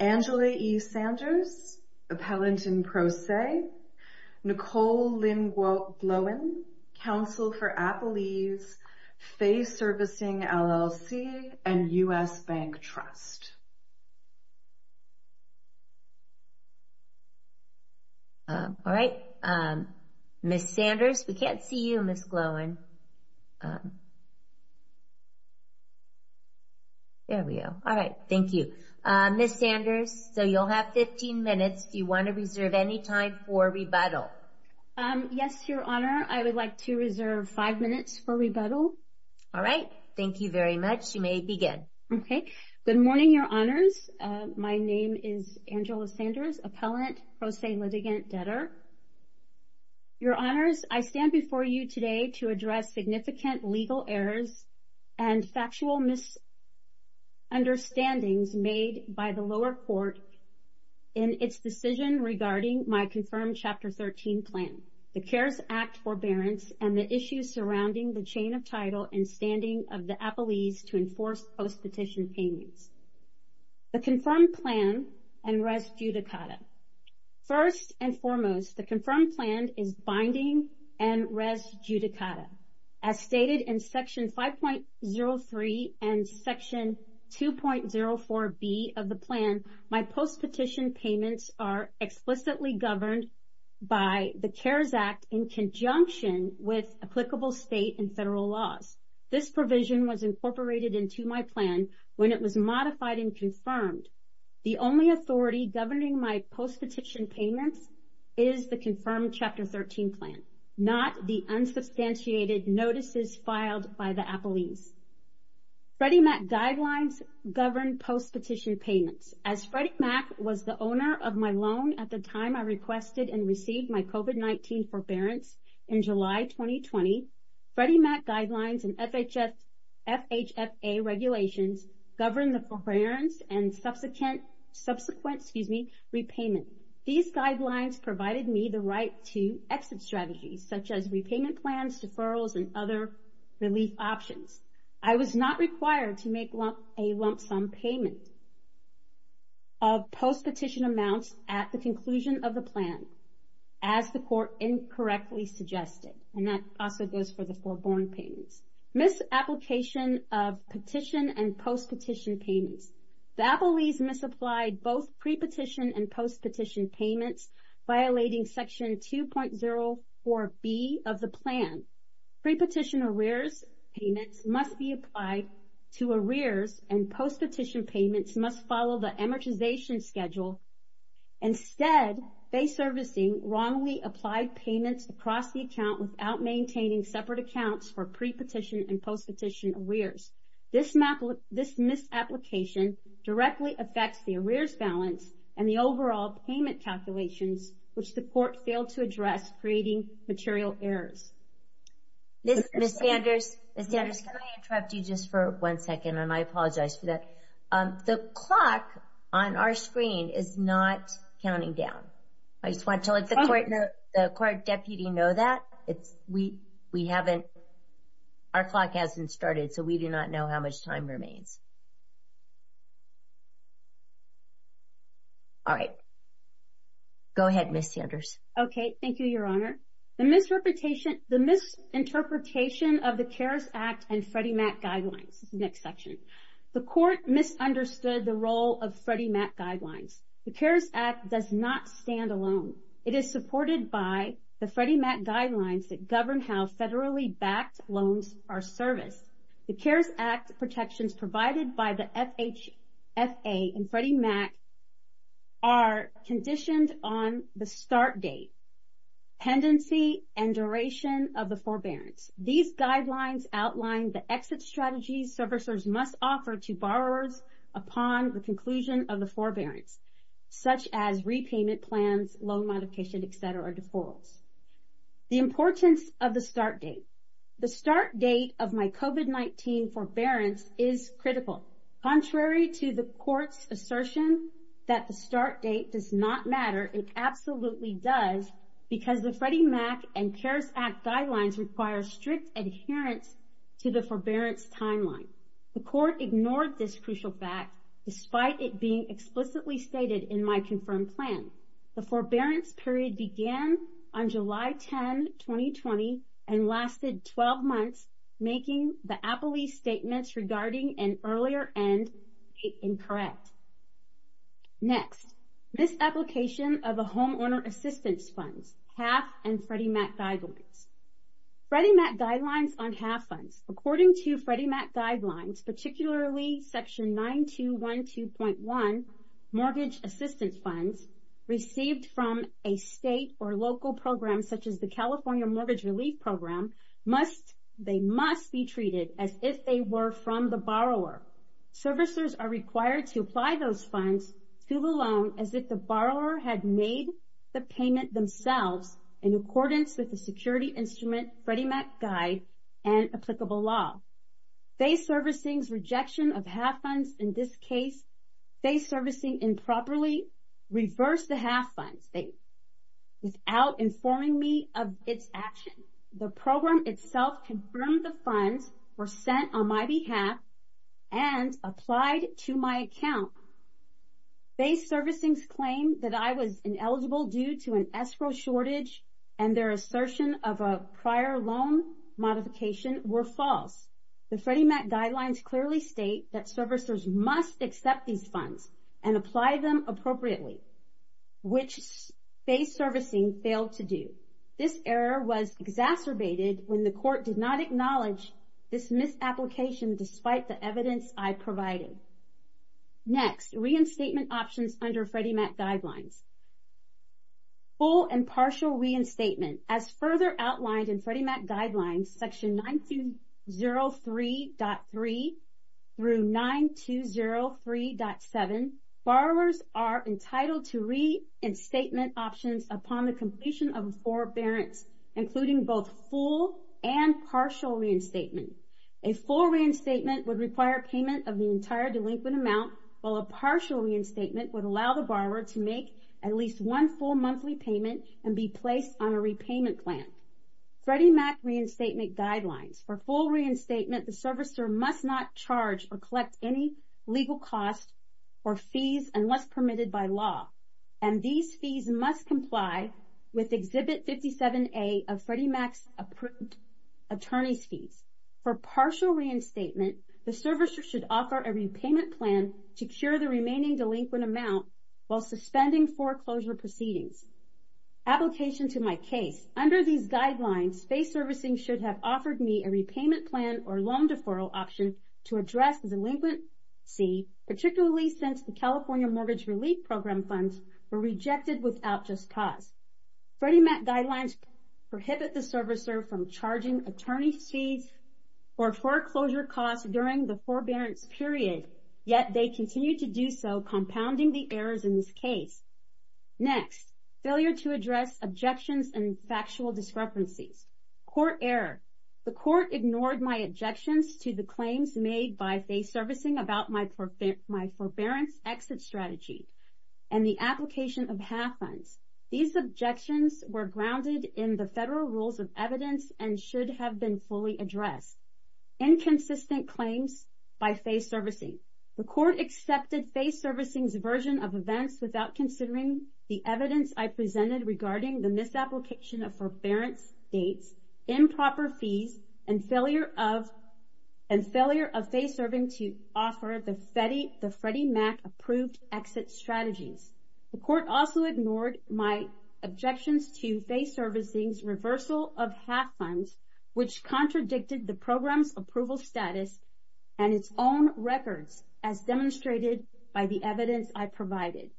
Angela E. Sanders, Appellant in Pro Se, Nicole Lynn Glowen, Counsel for Appalese, Faith Servicing LLC, and U.S. Bank Trust. All right. Ms. Sanders, we can't see you, Ms. Glowen. There we go. All right. Thank you. Ms. Sanders, so you'll have 15 minutes. Do you want to reserve any time for rebuttal? Yes, Your Honor. I would like to reserve five minutes for rebuttal. All right. Thank you very much. You may begin. Okay. Good morning, Your Honors. My name is Angela Sanders, Appellant Pro Se Litigant Debtor. Your Honors, I stand before you today to address significant legal errors and factual misunderstandings made by the lower court in its decision regarding my confirmed Chapter 13 plan, the CARES Act forbearance, and the issues surrounding the chain of title and standing of the appellees to enforce post-petition payments. The confirmed plan and res judicata. First and foremost, the confirmed plan is binding and res judicata. As stated in Section 5.03 and Section 2.04B of the plan, my post-petition payments are explicitly governed by the CARES Act in conjunction with applicable state and federal laws. This provision was incorporated into my plan when it was modified and confirmed. The only authority governing my post-petition payments is the confirmed Chapter 13 plan, not the unsubstantiated notices filed by the appellees. Freddie Mac guidelines govern post-petition payments. As Freddie Mac was the owner of my loan at the time I requested and received my COVID-19 forbearance in July 2020, Freddie Mac guidelines and FHFA regulations govern the forbearance and subsequent, excuse me, repayment. These guidelines provided me the right to exit strategies, such as repayment plans, deferrals, and other relief options. I was not required to make a lump-sum payment of post-petition amounts at the conclusion of the plan, as the court incorrectly suggested, and that also goes for the forborn payments. Misapplication of petition and post-petition payments. The appellees misapplied both pre-petition and post-petition payments, violating Section 2.04B of the plan. Pre-petition arrears payments must be applied to arrears, and post-petition payments must follow the amortization schedule. Instead, they servicing wrongly applied payments across the account without maintaining separate accounts for pre-petition and post-petition arrears. This misapplication directly affects the arrears balance and the overall payment calculations, which the court failed to address, creating material errors. Ms. Sanders, can I interrupt you just for one second, and I apologize for that? The clock on our screen is not counting down. I just want to let the court deputy know that. Our clock hasn't started, so we do not know how much time remains. All right. Go ahead, Ms. Sanders. Okay. Thank you, Your Honor. The misinterpretation of the CARES Act and Freddie Mac guidelines. This is the next section. The court misunderstood the role of Freddie Mac guidelines. The CARES Act does not stand alone. It is supported by the Freddie Mac guidelines that govern how federally-backed loans are serviced. The CARES Act protections provided by the FHA and Freddie Mac are conditioned on the start date, pendency, and duration of the forbearance. These guidelines outline the exit strategies servicers must offer to borrowers upon the conclusion of the forbearance, such as repayment plans, loan modification, et cetera, or deferrals. The importance of the start date. The start date of my COVID-19 forbearance is critical. Contrary to the court's assertion that the start date does not matter, it absolutely does, because the Freddie Mac and CARES Act guidelines require strict adherence to the forbearance timeline. The court ignored this crucial fact, despite it being explicitly stated in my confirmed plan. The forbearance period began on July 10, 2020, and lasted 12 months, making the Appleby's statements regarding an earlier end incorrect. Next, misapplication of a homeowner assistance funds, HAAF and Freddie Mac guidelines. Freddie Mac guidelines on HAAF funds. According to Freddie Mac guidelines, particularly Section 9212.1, mortgage assistance funds received from a state or local program, such as the California Mortgage Relief Program, they must be treated as if they were from the borrower. Servicers are required to apply those funds to the loan as if the borrower had made the payment themselves, in accordance with the security instrument Freddie Mac guide and applicable law. Faith Servicing's rejection of HAAF funds in this case. Faith Servicing improperly reversed the HAAF funds without informing me of its action. The program itself confirmed the funds were sent on my behalf and applied to my account. Faith Servicing's claim that I was ineligible due to an escrow shortage and their assertion of a prior loan modification were false. The Freddie Mac guidelines clearly state that servicers must accept these funds and apply them appropriately, which Faith Servicing failed to do. This error was exacerbated when the court did not acknowledge this misapplication despite the evidence I provided. Next, reinstatement options under Freddie Mac guidelines. Full and partial reinstatement. As further outlined in Freddie Mac guidelines, section 9203.3 through 9203.7, borrowers are entitled to reinstatement options upon the completion of forbearance, including both full and partial reinstatement. A full reinstatement would require payment of the entire delinquent amount, while a partial reinstatement would allow the borrower to make at least one full monthly payment and be placed on a repayment plan. Freddie Mac reinstatement guidelines. For full reinstatement, the servicer must not charge or collect any legal costs or fees unless permitted by law. And these fees must comply with Exhibit 57A of Freddie Mac's approved attorney's fees. For partial reinstatement, the servicer should offer a repayment plan to cure the remaining delinquent amount while suspending foreclosure proceedings. Application to my case. Under these guidelines, Faith Servicing should have offered me a repayment plan or loan deferral option to address the delinquency, particularly since the California Mortgage Relief Program funds were rejected without just cause. Freddie Mac guidelines prohibit the servicer from charging attorney's fees or foreclosure costs during the forbearance period, yet they continue to do so, compounding the errors in this case. Next, failure to address objections and factual discrepancies. Court error. The court ignored my objections to the claims made by Faith Servicing about my forbearance exit strategy and the application of half funds. These objections were grounded in the federal rules of evidence and should have been fully addressed. Inconsistent claims by Faith Servicing. The court accepted Faith Servicing's version of events without considering the evidence I presented regarding the misapplication of forbearance dates, improper fees, and failure of Faith Servicing to offer the Freddie Mac approved exit strategies. The court also ignored my objections to Faith Servicing's reversal of half funds, which contradicted the program's approval status and its own records as demonstrated by the evidence I provided.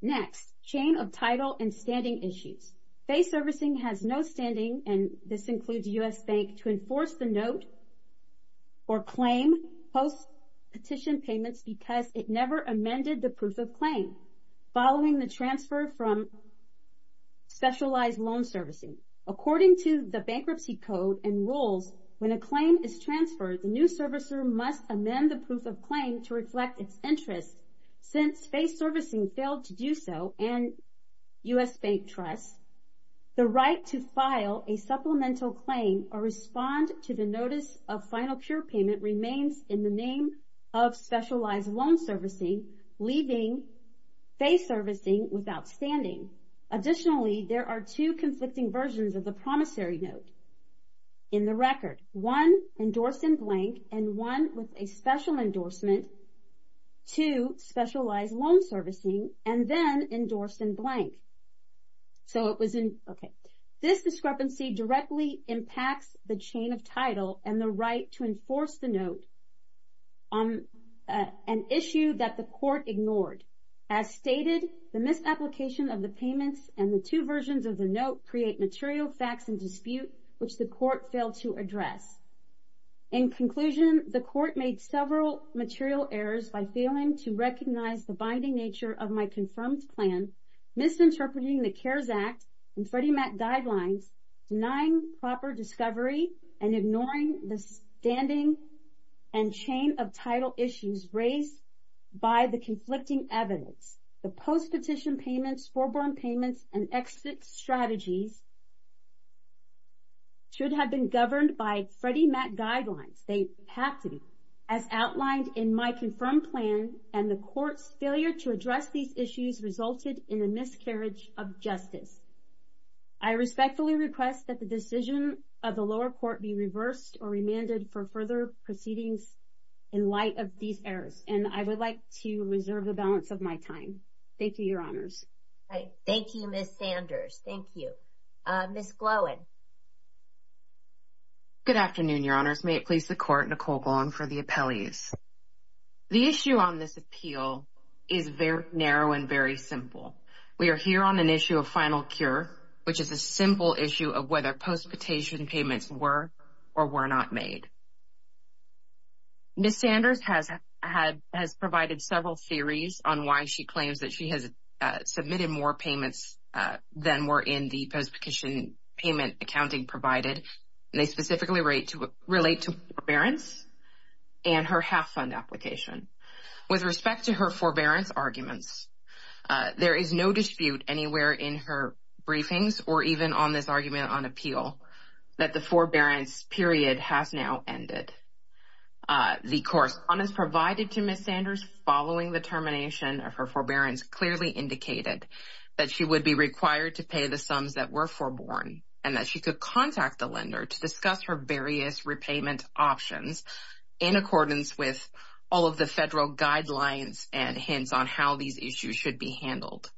Next, chain of title and standing issues. Faith Servicing has no standing, and this includes U.S. Bank, to enforce the note or claim post-petition payments because it never amended the proof of claim following the transfer from specialized loan servicing. According to the bankruptcy code and rules, when a claim is transferred, the new servicer must amend the proof of claim to reflect its interest. Since Faith Servicing failed to do so, and U.S. Bank trusts, the right to file a supplemental claim or respond to the notice of final cure payment remains in the name of specialized loan servicing, leaving Faith Servicing without standing. Additionally, there are two conflicting versions of the promissory note in the record. One endorsed in blank, and one with a special endorsement to specialized loan servicing, and then endorsed in blank. So it was in, okay. This discrepancy directly impacts the chain of title and the right to enforce the note on an issue that the court ignored. As stated, the misapplication of the payments and the two versions of the note create material facts in dispute, which the court failed to address. In conclusion, the court made several material errors by failing to recognize the binding nature of my confirmed plan, misinterpreting the CARES Act and Freddie Mac guidelines, denying proper discovery, and ignoring the standing and chain of title issues raised by the conflicting evidence. The post-petition payments, foreborn payments, and exit strategies should have been governed by Freddie Mac guidelines. They have to be, as outlined in my confirmed plan, and the court's failure to address these issues resulted in a miscarriage of justice. I respectfully request that the decision of the lower court be reversed or remanded for further proceedings in light of these errors, and I would like to reserve the balance of my time. Thank you, Your Honors. Thank you, Ms. Sanders. Thank you. Ms. Glowen. Good afternoon, Your Honors. May it please the Court, Nicole Glowen for the appellees. The issue on this appeal is very narrow and very simple. We are here on an issue of final cure, which is a simple issue of whether post-petition payments were or were not made. Ms. Sanders has provided several theories on why she claims that she has submitted more payments than were in the post-petition payment accounting provided, and they specifically relate to forbearance and her half-fund application. With respect to her forbearance arguments, there is no dispute anywhere in her briefings or even on this argument on appeal that the forbearance period has now ended. The course on this provided to Ms. Sanders following the termination of her forbearance clearly indicated that she would be required to pay the sums that were foreborne and that she could contact the lender to discuss her various repayment options in accordance with all of the federal guidelines and hints on how these issues should be handled.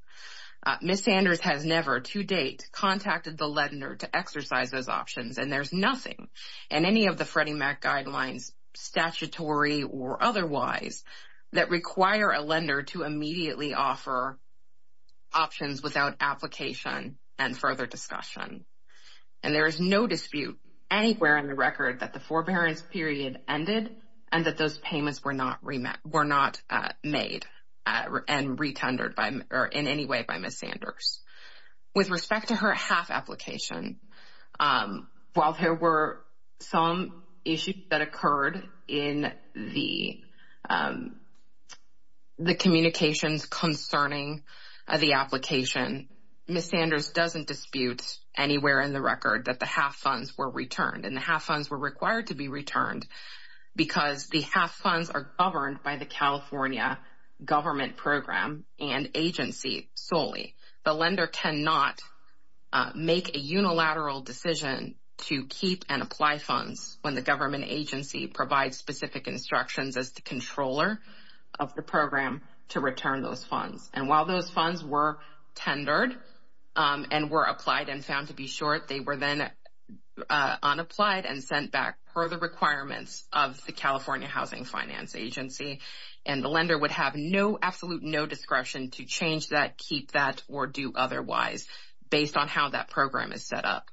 Ms. Sanders has never to date contacted the lender to exercise those options, and there's nothing in any of the Freddie Mac guidelines, statutory or otherwise, that require a lender to immediately offer options without application and further discussion. And there is no dispute anywhere in the record that the forbearance period ended and that those payments were not made and retunded in any way by Ms. Sanders. With respect to her half application, while there were some issues that occurred in the communications concerning the application, Ms. Sanders doesn't dispute anywhere in the record that the half funds were returned, and the half funds were required to be returned because the half funds are governed by the California government program and agency solely. The lender cannot make a unilateral decision to keep and apply funds when the government agency provides specific instructions as the controller of the program to return those funds. And while those funds were tendered and were applied and found to be short, they were then unapplied and sent back per the requirements of the California Housing Finance Agency, and the lender would have no, absolute no discretion to change that, keep that, or do otherwise, based on how that program is set up.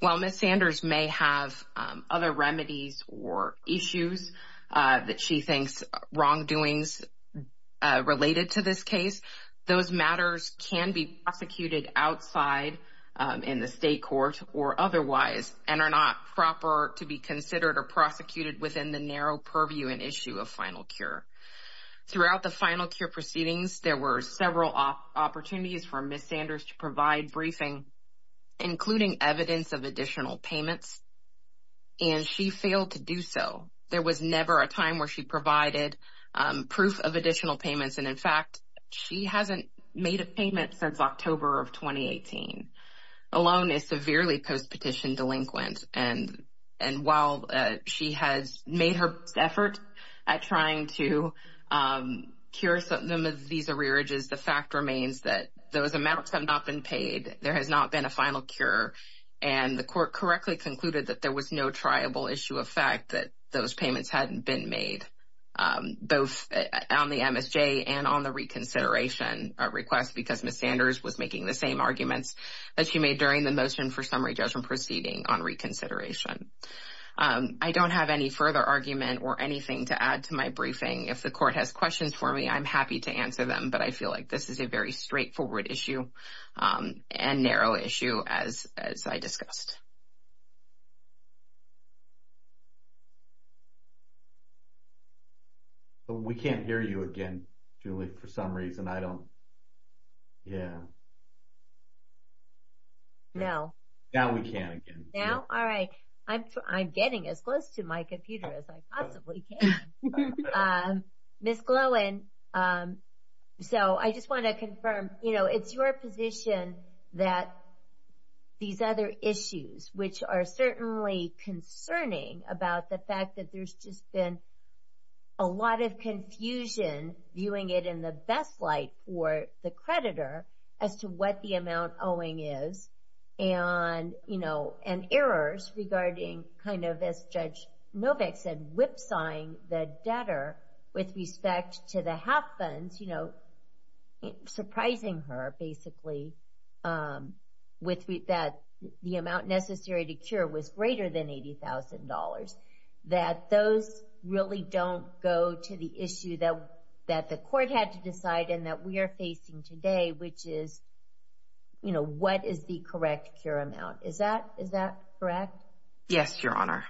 While Ms. Sanders may have other remedies or issues that she thinks wrongdoings related to this case, those matters can be prosecuted outside in the state court or otherwise and are not proper to be considered or prosecuted within the narrow purview and issue of final cure. Throughout the final cure proceedings, there were several opportunities for Ms. Sanders to provide briefing, including evidence of additional payments, and she failed to do so. There was never a time where she provided proof of additional payments, and, in fact, she hasn't made a payment since October of 2018. The loan is severely post-petition delinquent, and while she has made her best effort at trying to cure some of these arrearages, the fact remains that those amounts have not been paid, there has not been a final cure, and the court correctly concluded that there was no triable issue of fact that those payments hadn't been made, both on the MSJ and on the reconsideration request because Ms. Sanders was making the same arguments that she made during the motion for summary judgment proceeding on reconsideration. I don't have any further argument or anything to add to my briefing. If the court has questions for me, I'm happy to answer them, but I feel like this is a very straightforward issue and narrow issue as I discussed. But we can't hear you again, Julie, for some reason. I don't, yeah. No. Now we can again. Now? All right. I'm getting as close to my computer as I possibly can. Ms. Glowen, so I just want to confirm, you know, it's your position that these other issues, which are certainly concerning about the fact that there's just been a lot of confusion viewing it in the best light for the creditor as to what the amount owing is and, you know, and errors regarding kind of, as Judge Novak said, whipsawing the debtor with respect to the half funds, you know, surprising her, basically, that the amount necessary to cure was greater than $80,000, that those really don't go to the issue that the court had to decide and that we are facing today, which is, you know, what is the correct cure amount? Is that correct? Yes, Your Honor.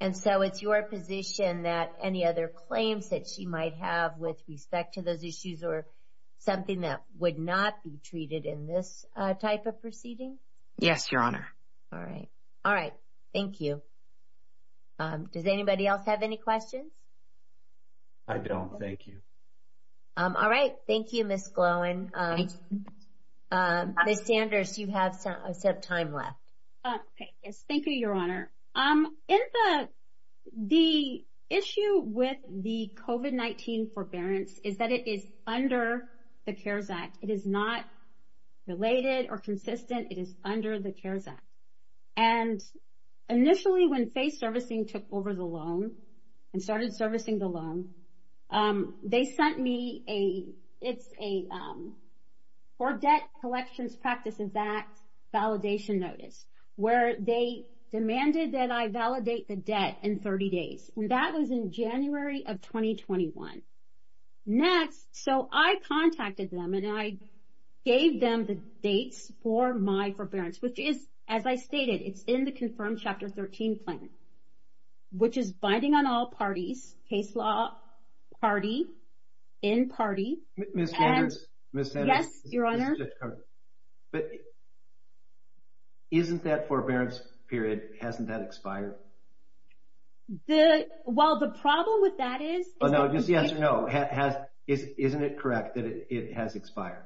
And so it's your position that any other claims that she might have with respect to those issues or something that would not be treated in this type of proceeding? Yes, Your Honor. All right. All right. Thank you. Does anybody else have any questions? I don't. Thank you. All right. Thank you, Ms. Glowen. Ms. Sanders, you have some time left. Yes, thank you, Your Honor. The issue with the COVID-19 forbearance is that it is under the CARES Act. It is not related or consistent. It is under the CARES Act. And initially when FACE Servicing took over the loan and started servicing the loan, they sent me a For Debt Collections Practices Act validation notice, where they demanded that I validate the debt in 30 days. And that was in January of 2021. Next, so I contacted them and I gave them the dates for my forbearance, which is, as I stated, it's in the confirmed Chapter 13 plan, which is binding on all parties, case law party, in party. Ms. Sanders. Yes, Your Honor. But isn't that forbearance period, hasn't that expired? Well, the problem with that is. Just yes or no. Isn't it correct that it has expired?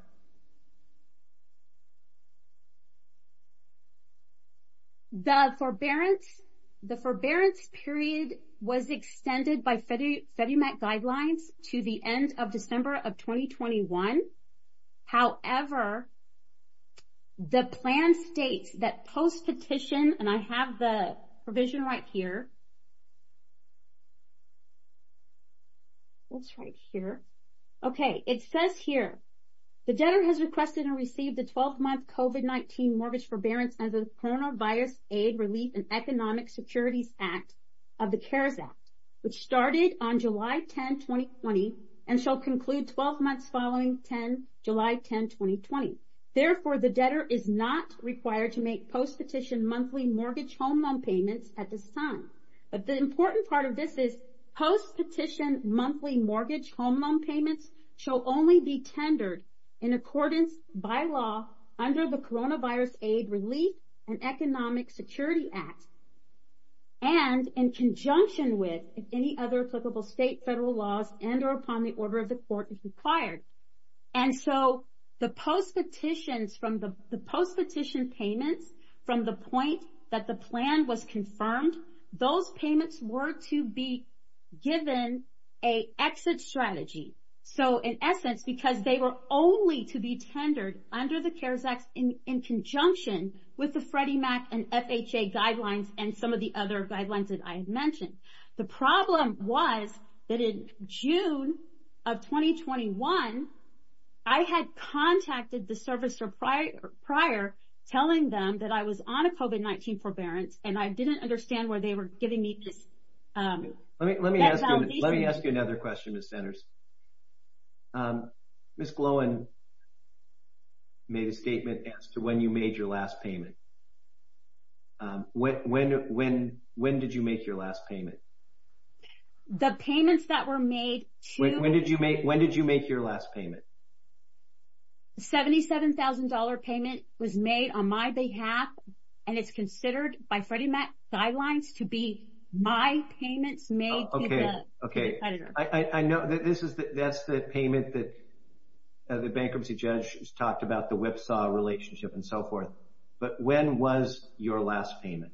The forbearance period was extended by FEDOMAC guidelines to the end of December of 2021. However, the plan states that post-petition, and I have the provision right here. What's right here? Okay. It says here, the debtor has requested and received a 12-month COVID-19 mortgage forbearance as a Coronavirus Aid Relief and Economic Securities Act of the CARES Act, which started on July 10, 2020, and shall conclude 12 months following July 10, 2020. Therefore, the debtor is not required to make post-petition monthly mortgage home loan payments at this time. But the important part of this is post-petition monthly mortgage home loan payments shall only be tendered in accordance by law under the Coronavirus Aid Relief and Economic Security Act. And in conjunction with any other applicable state, federal laws and or upon the order of the court if required. And so, the post-petition payments from the point that the plan was confirmed, those payments were to be given a exit strategy. So, in essence, because they were only to be tendered under the CARES Act in conjunction with the Freddie Mac and FHA guidelines and some of the other guidelines that I had mentioned. The problem was that in June of 2021, I had contacted the servicer prior telling them that I was on a COVID-19 forbearance and I didn't understand where they were giving me this. Let me ask you another question, Ms. Sanders. Ms. Glowen made a statement as to when you made your last payment. When did you make your last payment? The payments that were made to... When did you make your last payment? $77,000 payment was made on my behalf and it's considered by Freddie Mac guidelines to be my payments made to the debtor. Okay. I know that's the payment that the bankruptcy judge talked about, the whipsaw relationship and so forth. But when was your last payment?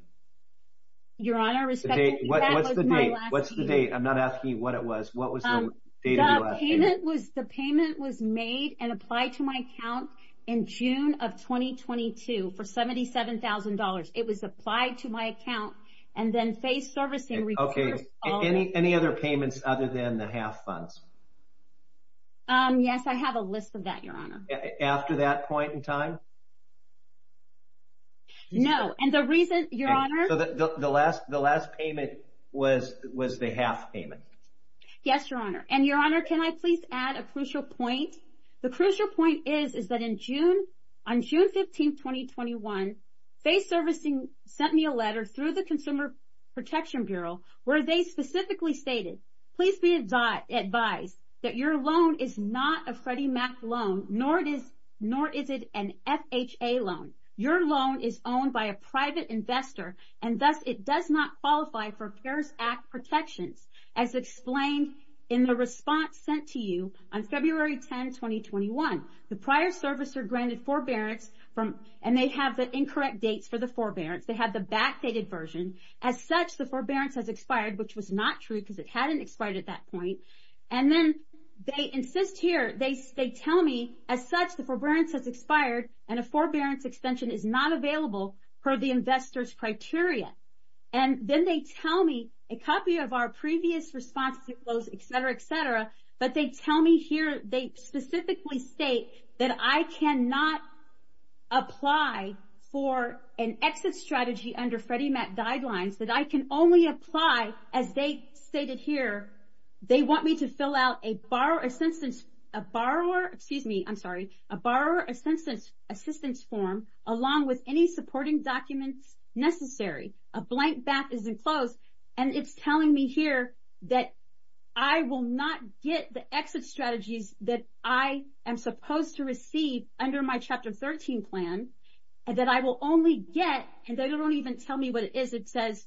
Your Honor, respectfully, that was my last payment. What's the date? I'm not asking you what it was. What was the date of your last payment? The payment was made and applied to my account in June of 2022 for $77,000. It was applied to my account and then face servicing... Okay. Any other payments other than the half funds? Yes, I have a list of that, Your Honor. After that point in time? No. And the reason, Your Honor... The last payment was the half payment. Yes, Your Honor. And Your Honor, can I please add a crucial point? The crucial point is that on June 15, 2021, face servicing sent me a letter through the Consumer Protection Bureau where they specifically stated, please be advised that your loan is not a Freddie Mac loan, nor is it an FHA loan. Your loan is owned by a private investor and thus it does not qualify for CARES Act protections. As explained in the response sent to you on February 10, 2021, the prior servicer granted forbearance and they have the incorrect dates for the forbearance. They have the backdated version. As such, the forbearance has expired, which was not true because it hadn't expired at that point. And then they insist here, they tell me, as such, the forbearance has expired and a forbearance extension is not available per the investor's criteria. And then they tell me a copy of our previous response, et cetera, et cetera. But they tell me here, they specifically state that I cannot apply for an exit strategy under Freddie Mac guidelines, that I can only apply, as they stated here, they want me to fill out a borrower assistance, a borrower, excuse me, I'm sorry, a borrower assistance form along with any supporting documents necessary. A blank back is enclosed and it's telling me here that I will not get the exit strategies that I am supposed to receive under my Chapter 13 plan, and that I will only get, and they don't even tell me what it is, it says,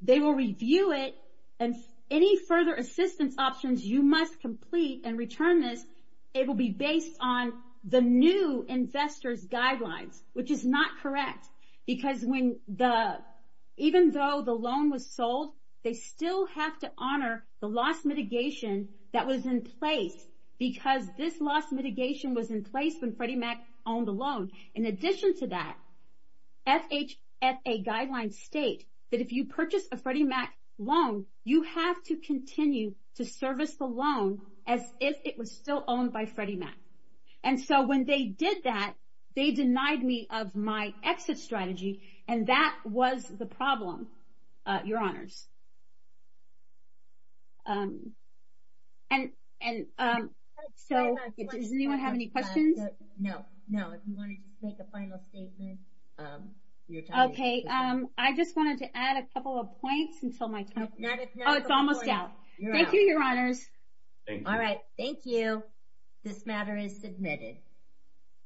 they will review it and any further assistance options you must complete and return this, it will be based on the new investor's guidelines, which is not correct. Because when the, even though the loan was sold, they still have to honor the loss mitigation that was in place, because this loss mitigation was in place when Freddie Mac owned the loan. In addition to that, FHFA guidelines state that if you purchase a Freddie Mac loan, you have to continue to service the loan as if it was still owned by Freddie Mac. And so when they did that, they denied me of my exit strategy, and that was the problem, your honors. And so, does anyone have any questions? No, no, if you want to just make a final statement. Okay, I just wanted to add a couple of points until my time. Oh, it's almost out. Thank you, your honors. All right, thank you. This matter is submitted.